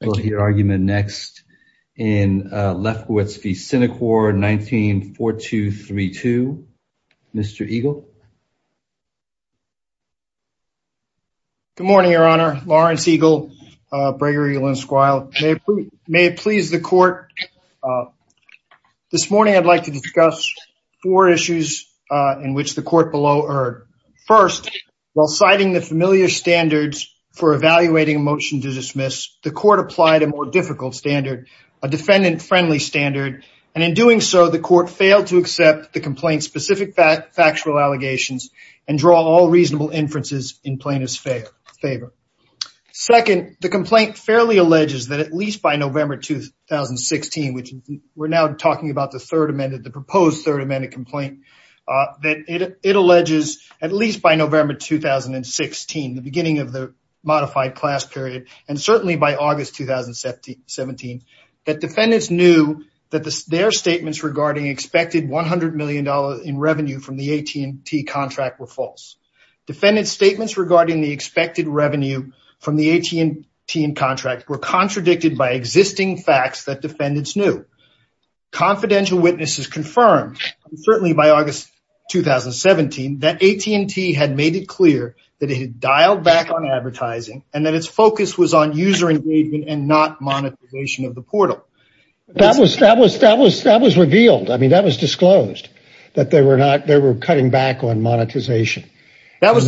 We'll hear argument next in Lefkowitz v. Synacor, 19-4232. Mr. Eagle. Good morning, Your Honor. Lawrence Eagle, Gregory Linsquile. May it please the Court, this morning I'd like to discuss four issues in which the Court below erred. First, while citing the familiar standards for evaluating a motion to dismiss, the Court applied a more difficult standard, a defendant-friendly standard, and in doing so the Court failed to accept the complaint's specific factual allegations and draw all reasonable inferences in plaintiff's favor. Second, the complaint fairly alleges that at least by November 2016, which we're now talking about the third amended, the proposed third amended complaint, that it alleges at least by November 2016, the beginning of the modified class period, and certainly by August 2017, that defendants knew that their statements regarding expected $100 million in revenue from the AT&T contract were false. Defendant's statements regarding the expected revenue from the AT&T contract were contradicted by existing facts that defendants knew. Confidential witnesses confirmed, certainly by August 2017, that AT&T had made it clear that it had dialed back on advertising and that its focus was on user engagement and not monetization of the portal. That was revealed. I mean, that was disclosed, that they were cutting back on monetization. That was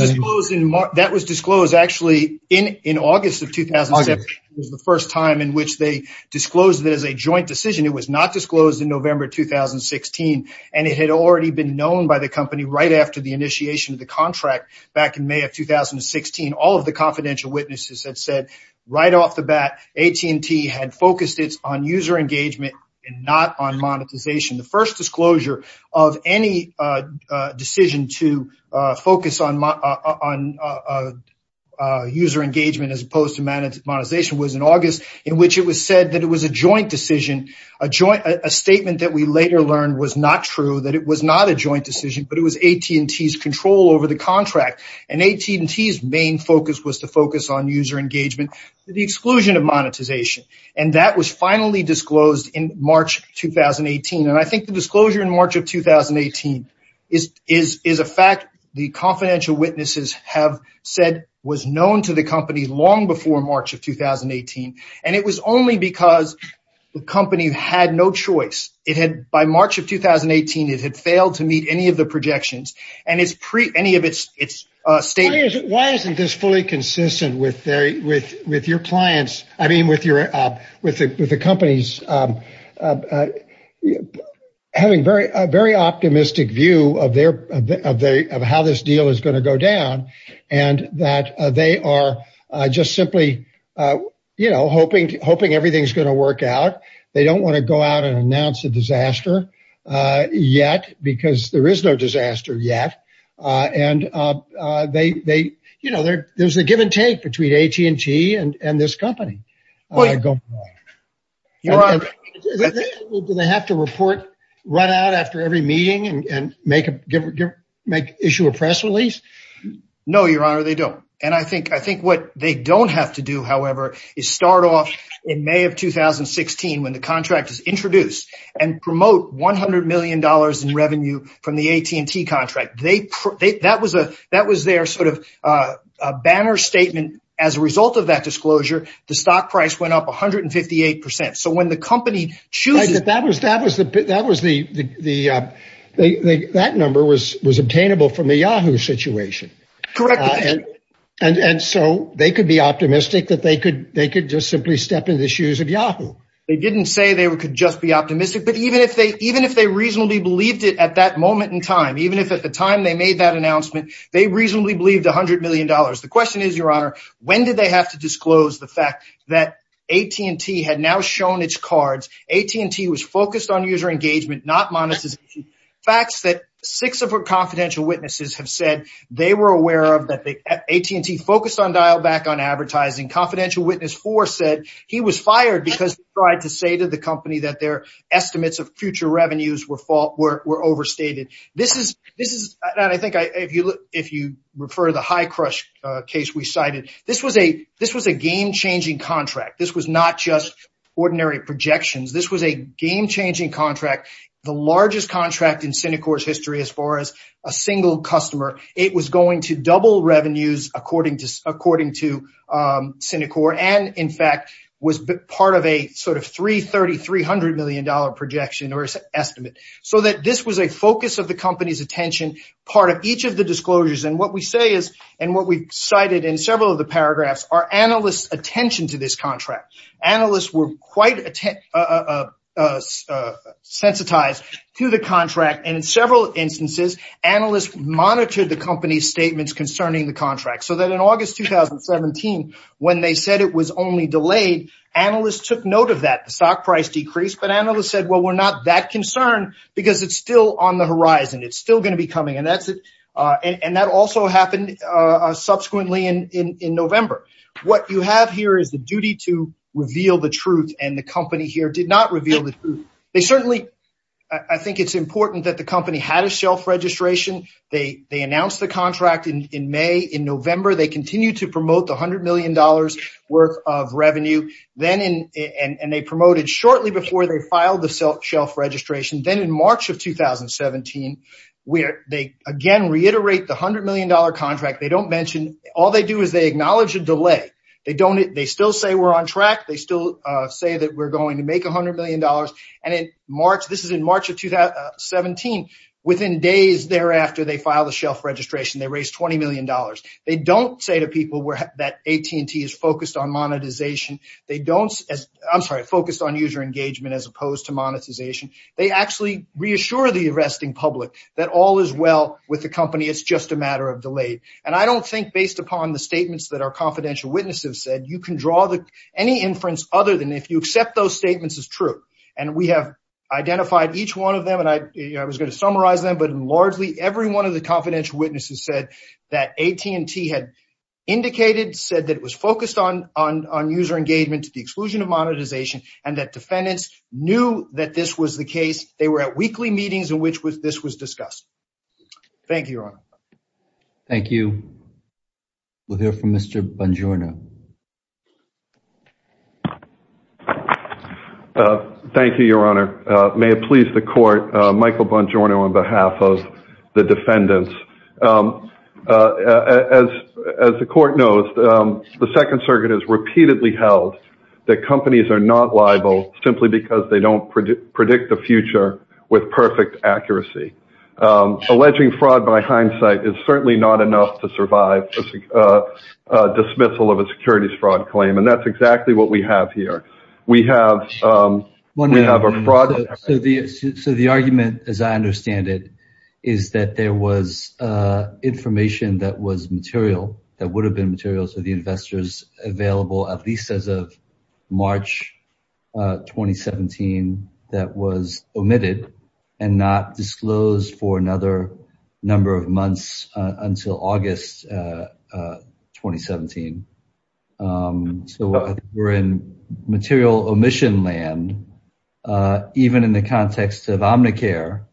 disclosed actually in August of 2017, was the first time in which they disclosed that as a joint decision. It was not disclosed in November 2016, and it had already been known by the company right after the initiation of the contract back in May of 2016. All of the confidential witnesses had said right off the bat AT&T had focused its on user engagement and not on monetization. The first disclosure of any decision to focus on user engagement as opposed to monetization was in August, in which it was said that it was a joint decision, a statement that we later learned was not true, that it was not a joint decision, but it was AT&T's control over the contract. And AT&T's main focus was to focus on user engagement to the exclusion of monetization. And that was finally disclosed in March 2018. And I think the disclosure in March of 2018 is a fact the confidential witnesses have said was known to the company long before March of 2018. And it was only because the company had no choice. By March of 2018, it had failed to meet any of the projections and any of its statements. Why isn't this fully consistent with your clients? I mean, with the companies having a very optimistic view of how this deal is going to go down and that they are just simply hoping everything's going to work out. They don't want to go out and announce a disaster yet because there is no disaster yet. And there's a give and take between AT&T and this company. Do they have to report right out after every meeting and issue a press release? No, Your Honor, they don't. And I think what they don't have to do, however, is start off in May of 2016 when the contract is introduced and promote $100 million in revenue from the AT&T contract. That was their sort of a banner statement. As a result of that disclosure, the stock price went up 158 percent. So when the company chooses... That number was obtainable from the Yahoo situation. And so they could be optimistic that they could just simply step in the shoes of Yahoo. They didn't say they could just be optimistic. But even if they reasonably believed it at that moment in time, even if at the time they made that announcement, they reasonably believed $100 million. The question is, Your Honor, when did they have to disclose the fact that AT&T had now shown its cards, AT&T was focused on user engagement, not monetization. Facts that six of our confidential witnesses have said they were aware of that AT&T focused on dial back on advertising. Confidential witness four said he was fired because he tried to say to the company that estimates of future revenues were overstated. This was a game-changing contract. This was not just ordinary projections. This was a game-changing contract, the largest contract in Cinecor's history as far as a single customer. It was going to double revenues according to Cinecor and in projection or estimate. So that this was a focus of the company's attention, part of each of the disclosures. And what we say is, and what we cited in several of the paragraphs are analysts' attention to this contract. Analysts were quite sensitized to the contract. And in several instances, analysts monitored the company's statements concerning the contract. So that in August 2017, when they said it was only delayed, analysts took note of that. The stock price decreased, but analysts said, well, we're not that concerned because it's still on the horizon. It's still going to be coming. And that also happened subsequently in November. What you have here is the duty to reveal the truth. And the company here did not reveal the truth. They certainly, I think it's important that the company had a shelf registration. They announced the contract in May. In November, they continued to promote the $100 million worth of revenue. And they promoted shortly before they filed the shelf registration. Then in March of 2017, they again reiterate the $100 million contract. They don't mention, all they do is they acknowledge a delay. They still say we're on track. They still say that we're going to make $100 million. And in March, this is in March of 2017, within days thereafter, they filed a shelf registration. They raised $20 million. They don't say to people that AT&T is focused on monetization. They don't, I'm sorry, focused on user engagement as opposed to monetization. They actually reassure the arresting public that all is well with the company. It's just a matter of delay. And I don't think based upon the statements that our confidential witnesses have said, you can draw any inference other than if you accept those statements as true. And we have identified each one of them. And I was going to summarize them. But largely, every one of the confidential witnesses said that AT&T had indicated, said that it was focused on user engagement to the exclusion of monetization and that defendants knew that this was the case. They were at weekly meetings in which this was discussed. Thank you, Your Honor. Thank you. We'll hear from Mr. Bongiorno. Thank you, Your Honor. May it please the court, Michael Bongiorno, on behalf of the defendants. As the court knows, the Second Circuit has repeatedly held that companies are not liable simply because they don't predict the future with perfect accuracy. Alleging fraud by hindsight is not enough to survive a dismissal of a securities fraud claim. And that's exactly what we have here. So the argument, as I understand it, is that there was information that was material, that would have been material to the investors available at least as of March 2017 that was until August 2017. So we're in material omission land, even in the context of Omnicare,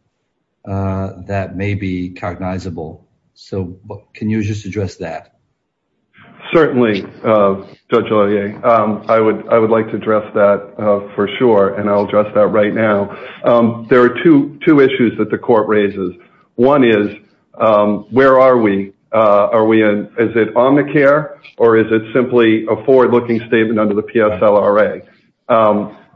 that may be cognizable. So can you just address that? Certainly, Judge O'Leary. I would like to address that for sure. And I'll address that right now. There are two issues that the court raises. One is, where are we? Is it Omnicare, or is it simply a forward-looking statement under the PSLRA?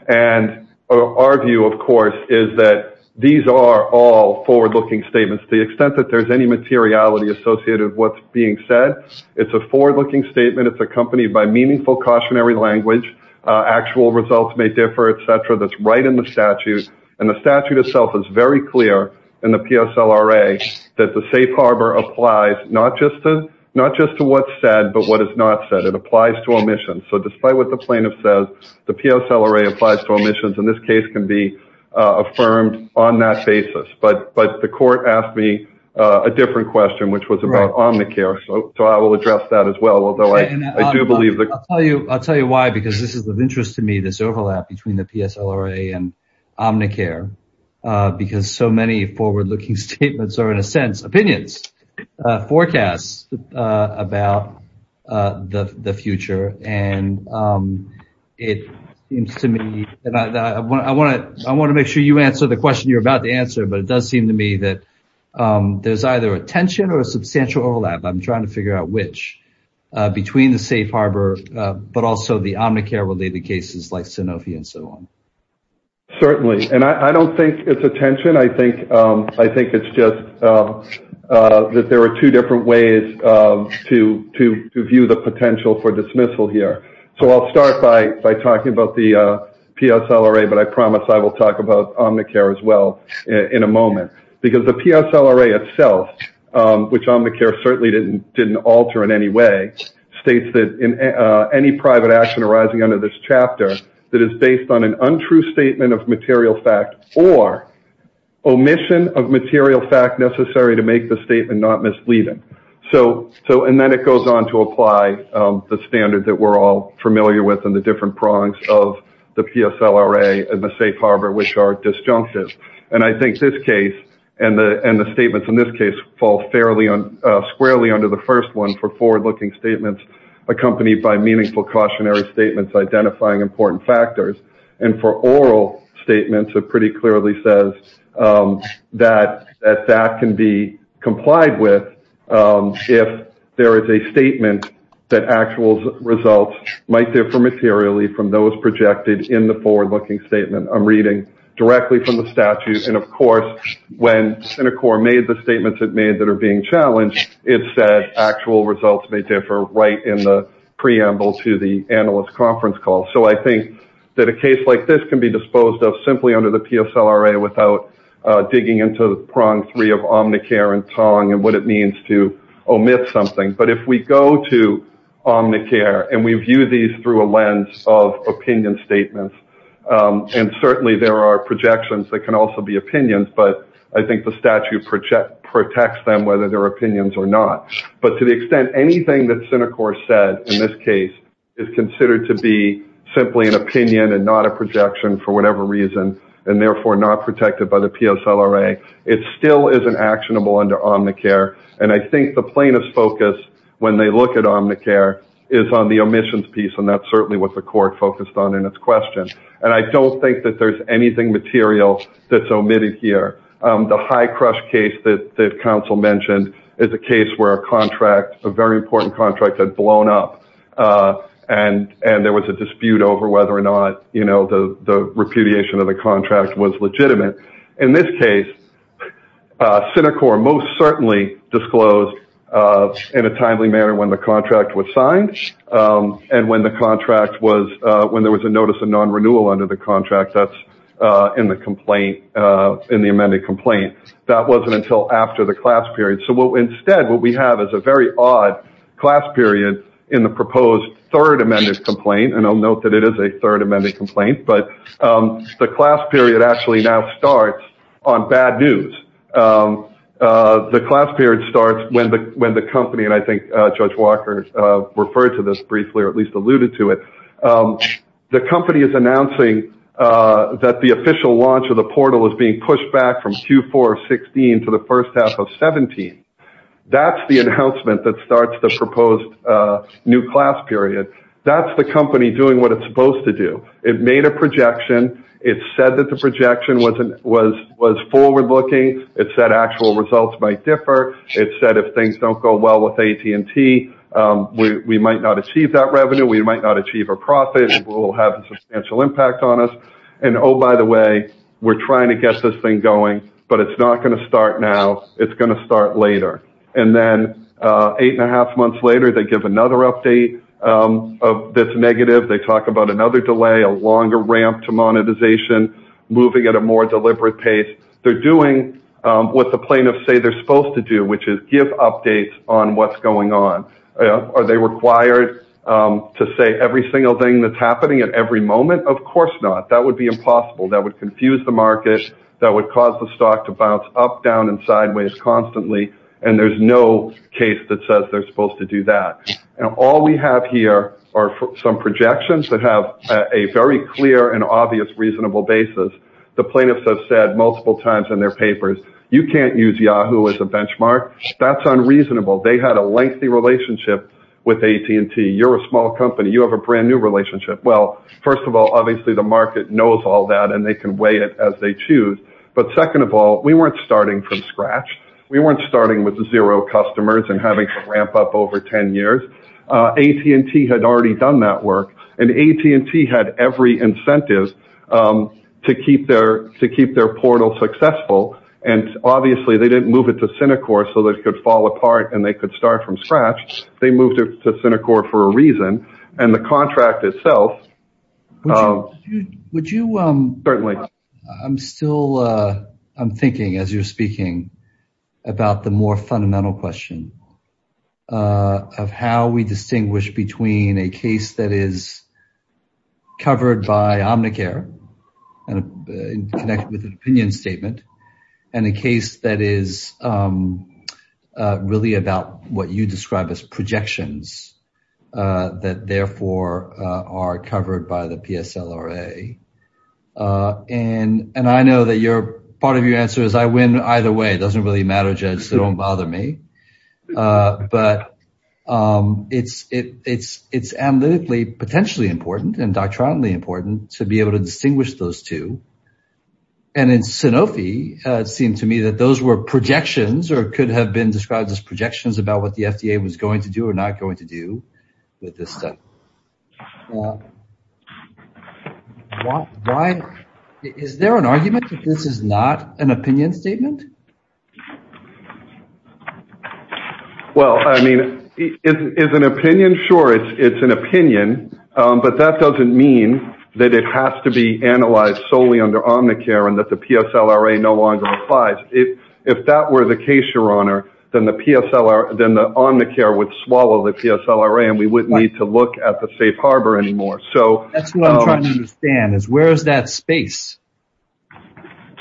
And our view, of course, is that these are all forward-looking statements. To the extent that there's any materiality associated with what's being said, it's a forward-looking statement. It's accompanied by meaningful language. Actual results may differ, et cetera. That's right in the statute. And the statute itself is very clear in the PSLRA that the safe harbor applies not just to what's said, but what is not said. It applies to omissions. So despite what the plaintiff says, the PSLRA applies to omissions. And this case can be affirmed on that basis. But the court asked me a different question, which was about Omnicare. So I will address that as well, although I do I'll tell you why, because this is of interest to me, this overlap between the PSLRA and Omnicare, because so many forward-looking statements are, in a sense, opinions, forecasts about the future. And it seems to me, and I want to make sure you answer the question you're about to answer, but it does seem to me that there's either a tension or a substantial overlap. I'm trying to figure out which. Between the safe harbor, but also the Omnicare-related cases like Sanofi, and so on. Certainly. And I don't think it's a tension. I think it's just that there are two different ways to view the potential for dismissal here. So I'll start by talking about the PSLRA, but I promise I will talk about Omnicare as well in a moment. Because the PSLRA itself, which Omnicare certainly didn't didn't alter in any way, states that in any private action arising under this chapter that is based on an untrue statement of material fact or omission of material fact necessary to make the statement not misleading. So and then it goes on to apply the standard that we're all familiar with and the different prongs of the PSLRA and the safe harbor, which are disjunctive. And I think this case and the statements in this fall fairly squarely under the first one for forward-looking statements accompanied by meaningful cautionary statements identifying important factors. And for oral statements, it pretty clearly says that that can be complied with if there is a statement that actual results might differ materially from those projected in the forward-looking statement I'm reading directly from the statute. And of course, when CenterCore made the statements it made that are being challenged, it said actual results may differ right in the preamble to the analyst conference call. So I think that a case like this can be disposed of simply under the PSLRA without digging into the prong three of Omnicare and Tong and what it means to omit something. But if we go to Omnicare and we view these through a lens of opinion statements, and certainly there are projections that can also be opinions, but I think the statute protects them whether they're opinions or not. But to the extent anything that CenterCore said in this case is considered to be simply an opinion and not a projection for whatever reason and therefore not protected by the PSLRA, it still isn't actionable under Omnicare. And I think the plaintiff's focus when they look at Omnicare is on the omissions piece and that's certainly what the court focused on in its question. And I don't think that there's anything material that's omitted here. The High Crush case that counsel mentioned is a case where a contract, a very important contract, had blown up and there was a dispute over whether or not the repudiation of the contract was legitimate. In this case, CenterCore most certainly disclosed in a timely manner when the contract was signed and when there was a notice of non-renewal under the contract that's in the amended complaint. That wasn't until after the class period. So instead what we have is a very odd class period in the proposed third amended complaint, and I'll note that it is a third amended complaint, but the class period actually now starts on bad news. The class period starts when the company, and I think Judge Walker referred to this briefly or at least alluded to it, the company is announcing that the official launch of the portal is being pushed back from Q4 of 16 to the first half of 17. That's the announcement that starts the proposed new class period. That's the company doing what it's supposed to do. It made a projection. It said that the projection was forward-looking. It said actual results might differ. It said if things don't go well with AT&T, we might not achieve that revenue. We might not achieve a profit. It will have a substantial impact on us. And oh, by the way, we're trying to get this thing going, but it's not going to start now. It's going to start later. And then eight and a half months later, they give another update that's negative. They talk about another delay, a longer ramp to monetization, moving at a more deliberate pace. They're doing what the plaintiffs say they're supposed to do, which is give updates on what's going on. Are they required to say every single thing that's happening at every moment? Of course not. That would be impossible. That would confuse the market. That would cause the stock to bounce up, down, and sideways constantly. And there's no case that says they're supposed to do that. And all we have here are some projections that have a very clear and obvious reasonable basis. The plaintiffs have said multiple times in their papers, you can't use Yahoo as a benchmark. That's unreasonable. They had a lengthy relationship with AT&T. You're a small company. You have a brand new relationship. Well, first of all, obviously the market knows all that and they can weigh it as they choose. But second of all, we weren't starting from scratch. We weren't starting with zero customers and having to ramp up over 10 years. AT&T had already done that work and AT&T had every incentive to keep their portal successful. And obviously they didn't move it to Cinecorp so that it could fall apart and they could start from scratch. They moved it to Cinecorp for a reason and the contract itself. I'm still thinking as you're speaking about the more fundamental question of how we distinguish between a case that is covered by Omnicare and connected with an opinion statement and a case that is really about what you describe as projections that therefore are covered by the PSLRA. And I know that part of your answer is I win either way. It doesn't really matter, Judge, so don't bother me. But it's analytically potentially important and doctrinally important to be able to distinguish those two. And in Sanofi, it seemed to me that those were projections or could have been described as projections about what the FDA was going to do or not going to do with this study. Is there an argument that this is not an opinion statement? Well, I mean, is it an opinion? Sure, it's an opinion. But that doesn't mean that it has to be analyzed solely under Omnicare and that the PSLRA no longer applies. If that were the case, then the Omnicare would swallow the PSLRA and we wouldn't need to look at the safe harbor anymore. That's what I'm trying to understand. Where is that space?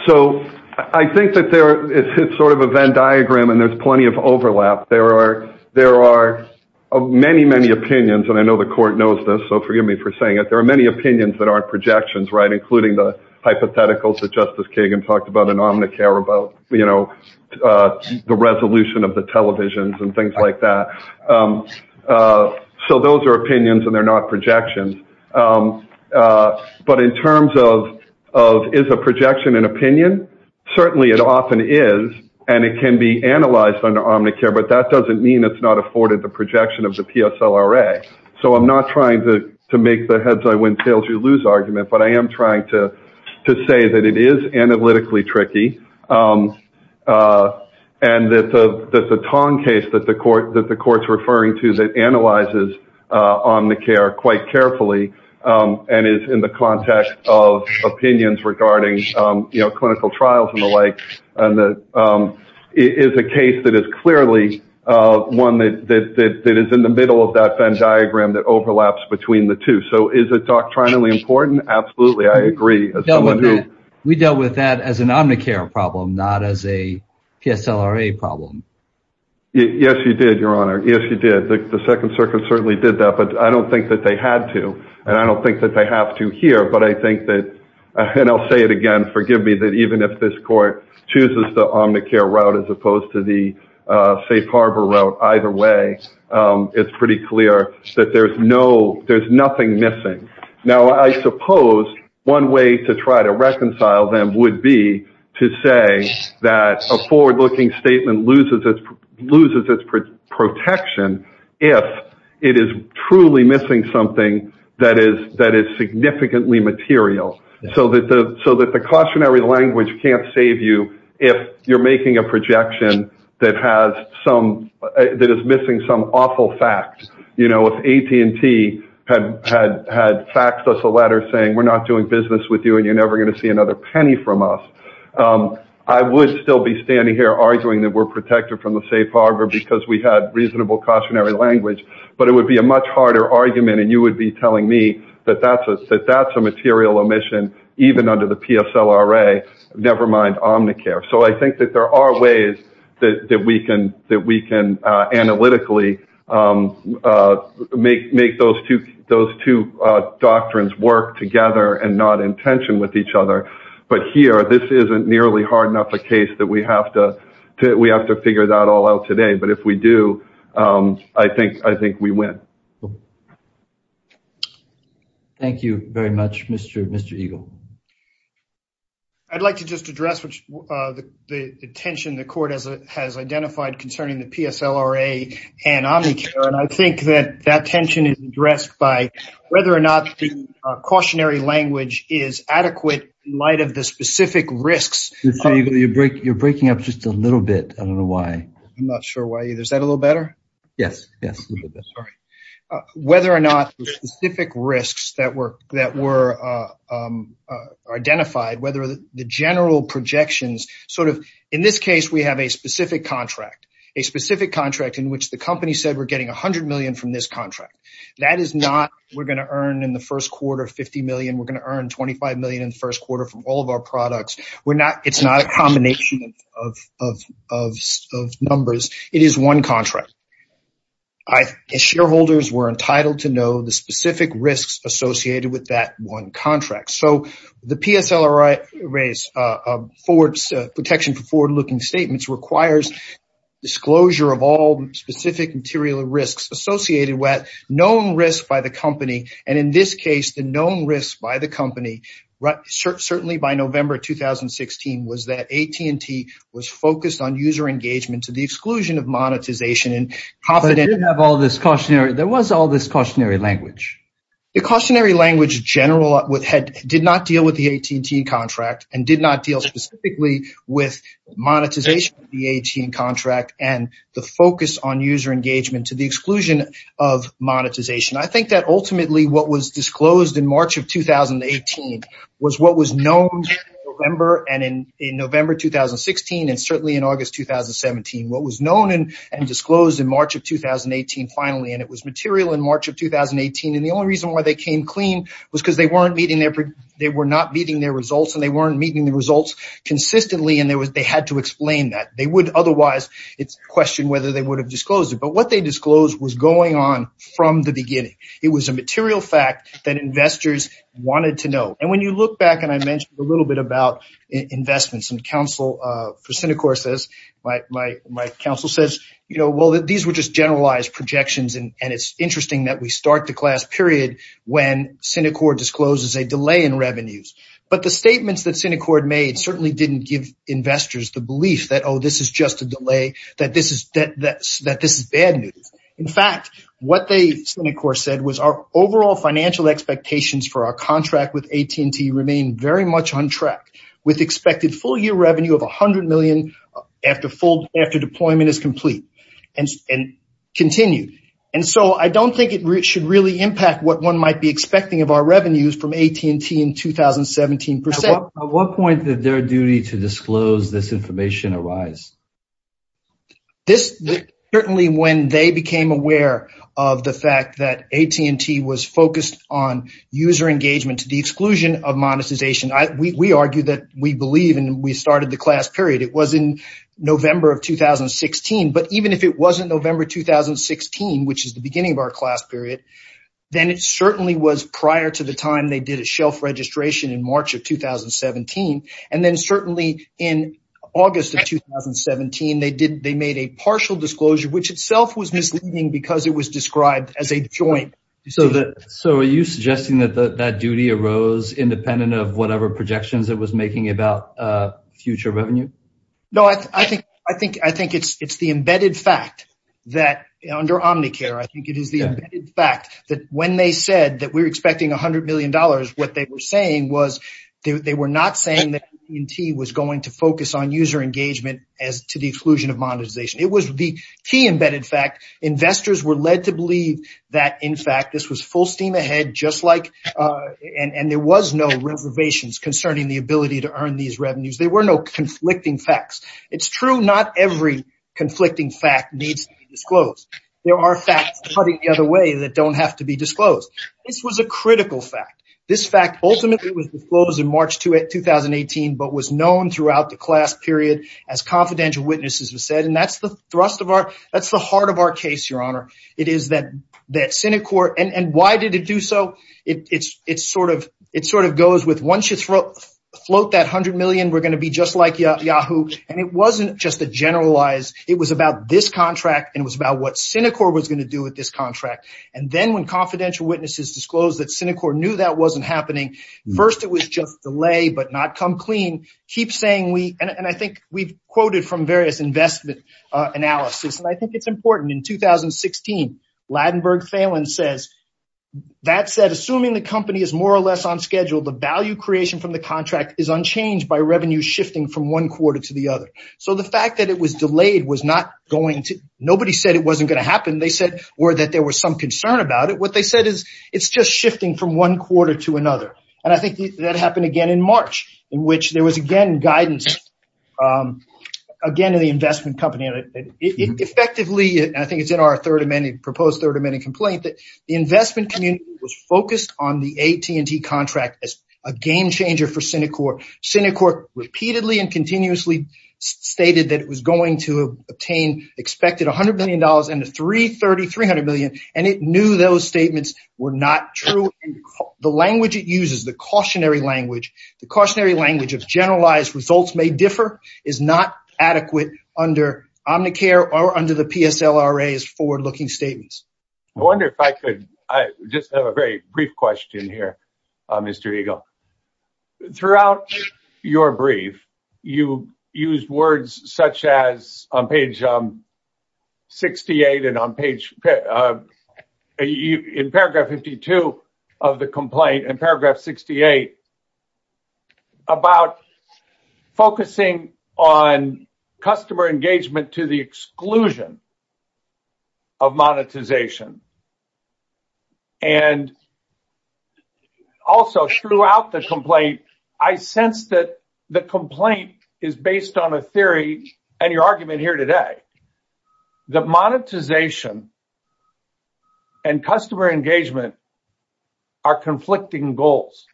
So I think that it's sort of a Venn diagram and there's plenty of overlap. There are many, many opinions, and I know the court knows this, so forgive me for saying it. There are many opinions that aren't projections, including the hypotheticals that Justice Kagan talked about in Omnicare about the resolution of the televisions and things like that. So those are opinions and they're not projections. But in terms of, is a projection an opinion? Certainly it often is, and it can be analyzed under Omnicare, but that doesn't mean it's not afforded the projection of the PSLRA. So I'm not trying to make the heads or tails or lose argument, but I am trying to say that it is analytically tricky and that the Tong case that the court's referring to that analyzes Omnicare quite carefully and is in the context of opinions regarding clinical trials and the like is a case that is clearly one that is in the middle of that Venn diagram that overlaps between the two. So is it doctrinally important? Absolutely. I agree. We dealt with that as an Omnicare problem, not as a PSLRA problem. Yes, you did, Your Honor. Yes, you did. The Second Circuit certainly did that, but I don't think that they had to, and I don't think that they have to here, but I think that, and I'll say it again, forgive me that even if this court chooses the Omnicare route as opposed to the Safe Harbor route, either way, it's pretty clear that there's nothing missing. Now, I suppose one way to try to reconcile them would be to say that a forward-looking statement loses its protection if it is truly missing something that is significantly material, so that the cautionary language can't save you if you're making a projection that is missing some awful fact. If AT&T had faxed us a letter saying, we're not doing business with you and you're never going to see another penny from us, I would still be standing here arguing that we're protected from the Safe Harbor because we had reasonable cautionary language, but it would be a much harder argument and you would be telling me that that's a material omission even under the PSLRA, never mind Omnicare, so I think that there are ways that we can analytically make those two doctrines work together and not in tension with each other, but here, this isn't nearly hard enough a case that we have to figure that all out today, but if we do, I think we win. Thank you very much, Mr. Eagle. I'd like to just address the tension the court has identified concerning the PSLRA and Omnicare, and I think that that tension is addressed by whether or not the cautionary language is adequate in light of the specific risks. Mr. Eagle, you're breaking up just a little bit. I don't know why. I'm not sure why either. Is that a little better? Yes, yes. Whether or not the specific risks that were identified, whether the general projections, in this case, we have a specific contract, a specific contract in which the company said we're getting $100 million from this contract. That is not we're going to earn in the first quarter $50 million, we're going to earn $25 million in the first quarter from all of our investments. Shareholders were entitled to know the specific risks associated with that one contract. So, the PSLRA's protection for forward-looking statements requires disclosure of all specific material risks associated with known risks by the company, and in this case, the known risks by the company, certainly by November 2016, was that AT&T was confident. There was all this cautionary language. The cautionary language, in general, did not deal with the AT&T contract and did not deal specifically with monetization of the AT&T contract and the focus on user engagement to the exclusion of monetization. I think that ultimately what was disclosed in March of 2018 was what was known in November 2016 and certainly in August 2017. What was known and disclosed in March of 2018, finally, and it was material in March of 2018, and the only reason why they came clean was because they were not meeting their results and they weren't meeting the results consistently and they had to explain that. They would otherwise question whether they would have disclosed it, but what they disclosed was going on from the beginning. It was a material fact that investors wanted to know. When you look back, and I mentioned a little bit about investments, my counsel says, well, these were just generalized projections and it's interesting that we start the class period when Cinecorp discloses a delay in revenues, but the statements that Cinecorp made certainly didn't give investors the belief that, oh, this is just a delay, that this is bad news. In fact, what Cinecorp said was our overall financial expectations for our contract with AT&T remain very much on track with expected full-year revenue of $100 million after deployment is complete and continue, and so I don't think it should really impact what one might be expecting of our revenues from AT&T in 2017%. At what point did their duty to disclose this information arise? Certainly when they became aware of the fact that AT&T was focused on user engagement to the exclusion of monetization, we argue that we believe and we started the class period. It was in November of 2016, but even if it wasn't November 2016, which is the beginning of our class period, then it certainly was prior to the time they did a shelf registration in March of 2017, and then certainly in August of 2017, they made a partial disclosure, which itself was misleading because it was described as a joint. So are you suggesting that that duty arose independent of whatever projections it was making about future revenue? No, I think it's the embedded fact that under Omnicare, I think it is the fact that when they said that we're expecting $100 million, what they were saying was they were not saying that AT&T was going to focus on user engagement as to the exclusion of monetization. It was the key embedded fact. Investors were led to believe that, in fact, this was full steam ahead, and there was no reservations concerning the ability to earn these revenues. There were no conflicting facts. It's true not every conflicting fact needs to be disclosed. There are facts putting it the other way that don't have to be disclosed. This was a critical fact. This fact ultimately was disclosed in March 2018, but was known throughout the class period as confidential witnesses have said, and that's the thrust of our, that's the heart of our case, Your Honor. It is that Synicor, and why did it do so? It sort of goes with once you float that $100 million, we're going to be just like Yahoo, and it wasn't just a generalized, it was about this contract, and it was about what Synicor was going to do with this contract, and then when confidential witnesses disclosed that Synicor knew that wasn't happening, first it was just delay but not come clean. Keep saying we, and I think we've quoted from various investment analysis, and I think it's important. In 2016, Ladenburg Phelan says, that said, assuming the company is more or less on schedule, the value creation from the contract is unchanged by revenue shifting from one quarter to the other. So the fact that it was delayed was not going to, nobody said it wasn't going to happen, they said, or that there was some concern about it. What they said is it's just shifting from one quarter to another, and I think that happened again in March, in which there was again guidance, again in the investment company, and it effectively, I think it's in our third amendment, proposed third amendment complaint, that the investment community was focused on the AT&T contract as a game changer for Synicor. Synicor repeatedly and continuously stated that it was going to obtain expected $100 million and the $330, $300 million, and it knew those statements were not true. The language it uses, the cautionary language, the cautionary language of generalized results may differ, is not adequate under Omnicare or under the PSLRA's forward-looking statements. I wonder if I could, I just have a very brief question here, Mr. Eagle. Throughout your brief, you used words such as, on page 68 and on page, in paragraph 52 of the complaint, in paragraph 68, about focusing on customer engagement to the Also, throughout the complaint, I sensed that the complaint is based on a theory, and your argument here today, that monetization and customer engagement are conflicting goals,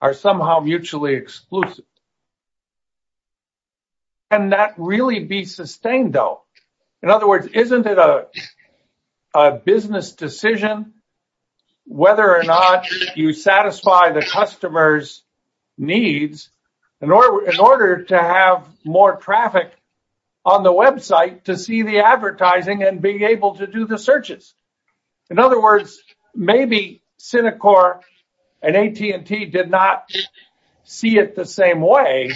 are somehow mutually exclusive. Can that really be sustained, though? In other words, isn't it a business decision whether or not you satisfy the customer's needs in order to have more traffic on the website to see the advertising and be able to do the searches? In other words, maybe Synicor and AT&T did not see it the same way,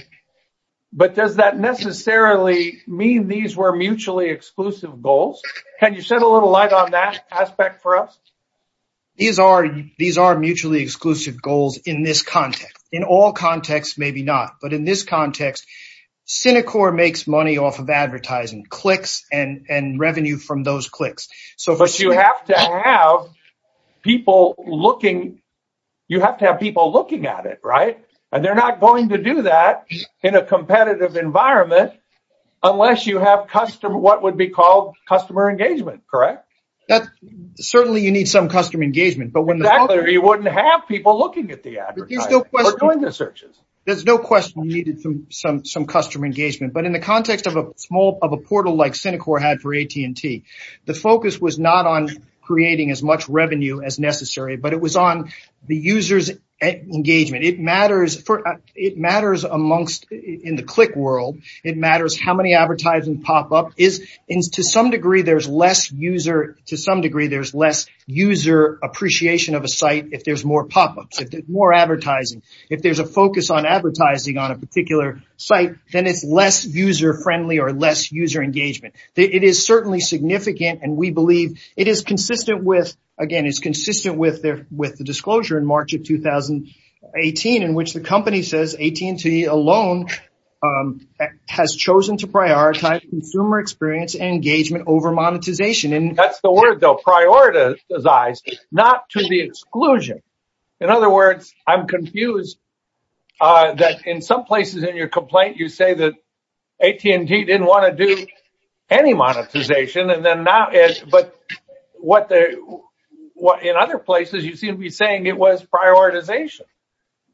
but does that necessarily mean these were mutually exclusive goals? Can you shed a little light on that aspect for us? These are mutually exclusive goals in this context. In all contexts, maybe not. But in this context, Synicor makes money off of advertising, clicks and revenue from those clicks. You have to have people looking at it, and they're not going to do that in a competitive environment unless you have what would be called customer engagement, correct? Certainly, you need some customer engagement. Exactly, or you wouldn't have people looking at the advertising or doing the searches. There's no question you needed some customer engagement. But in the context of a portal like Synicor had for AT&T, the focus was not on creating as much revenue as necessary, but it was on the user's engagement. It matters in the click world. It matters how many advertisements pop up. To some degree, there's less user appreciation of a site if there's more pop-ups, more advertising. If there's a focus on advertising on a particular site, then it's less user-friendly or less user engagement. It is certainly significant, and we believe it is consistent with the disclosure in March of 2018, in which the company says AT&T alone has chosen to prioritize consumer experience and engagement over monetization. That's the word, though. Prioritize, not to the exclusion. In other words, I'm confused that in some places in your complaint, you say that AT&T didn't want to do any monetization, but in other places, you seem saying it was prioritization.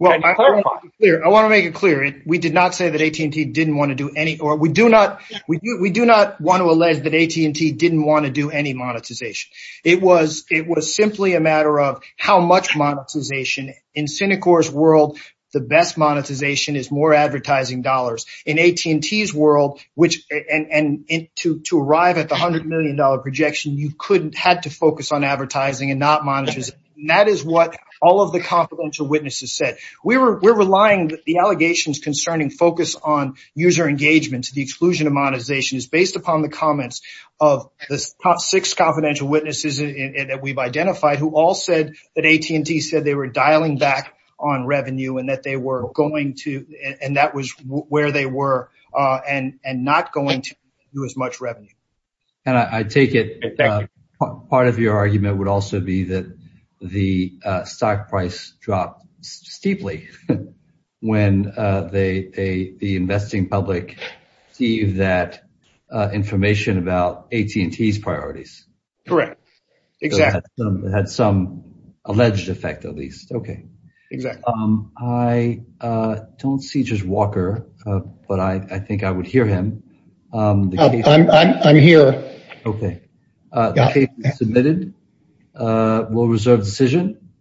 Can you clarify? I want to make it clear. We did not say that AT&T didn't want to do any, or we do not want to allege that AT&T didn't want to do any monetization. It was simply a matter of how much monetization. In Synicor's world, the best monetization is more advertising dollars. In AT&T's world, and to arrive at the $100 million projection, you had to focus on advertising and not monetization. That is what all of the confidential witnesses said. We're relying that the allegations concerning focus on user engagement to the exclusion of monetization is based upon the comments of the top six confidential witnesses that we've identified, who all said that AT&T said they were dialing back on revenue and that they were going to, and that was where they were, and not going to do as much revenue. I take it part of your argument would also be that the stock price dropped steeply when the investing public gave that information about AT&T's priorities. Correct. Exactly. It had some alleged effect, at least. I don't see just Walker, but I think I would hear him. I'm here. Okay. The case is submitted. We'll reserve decision.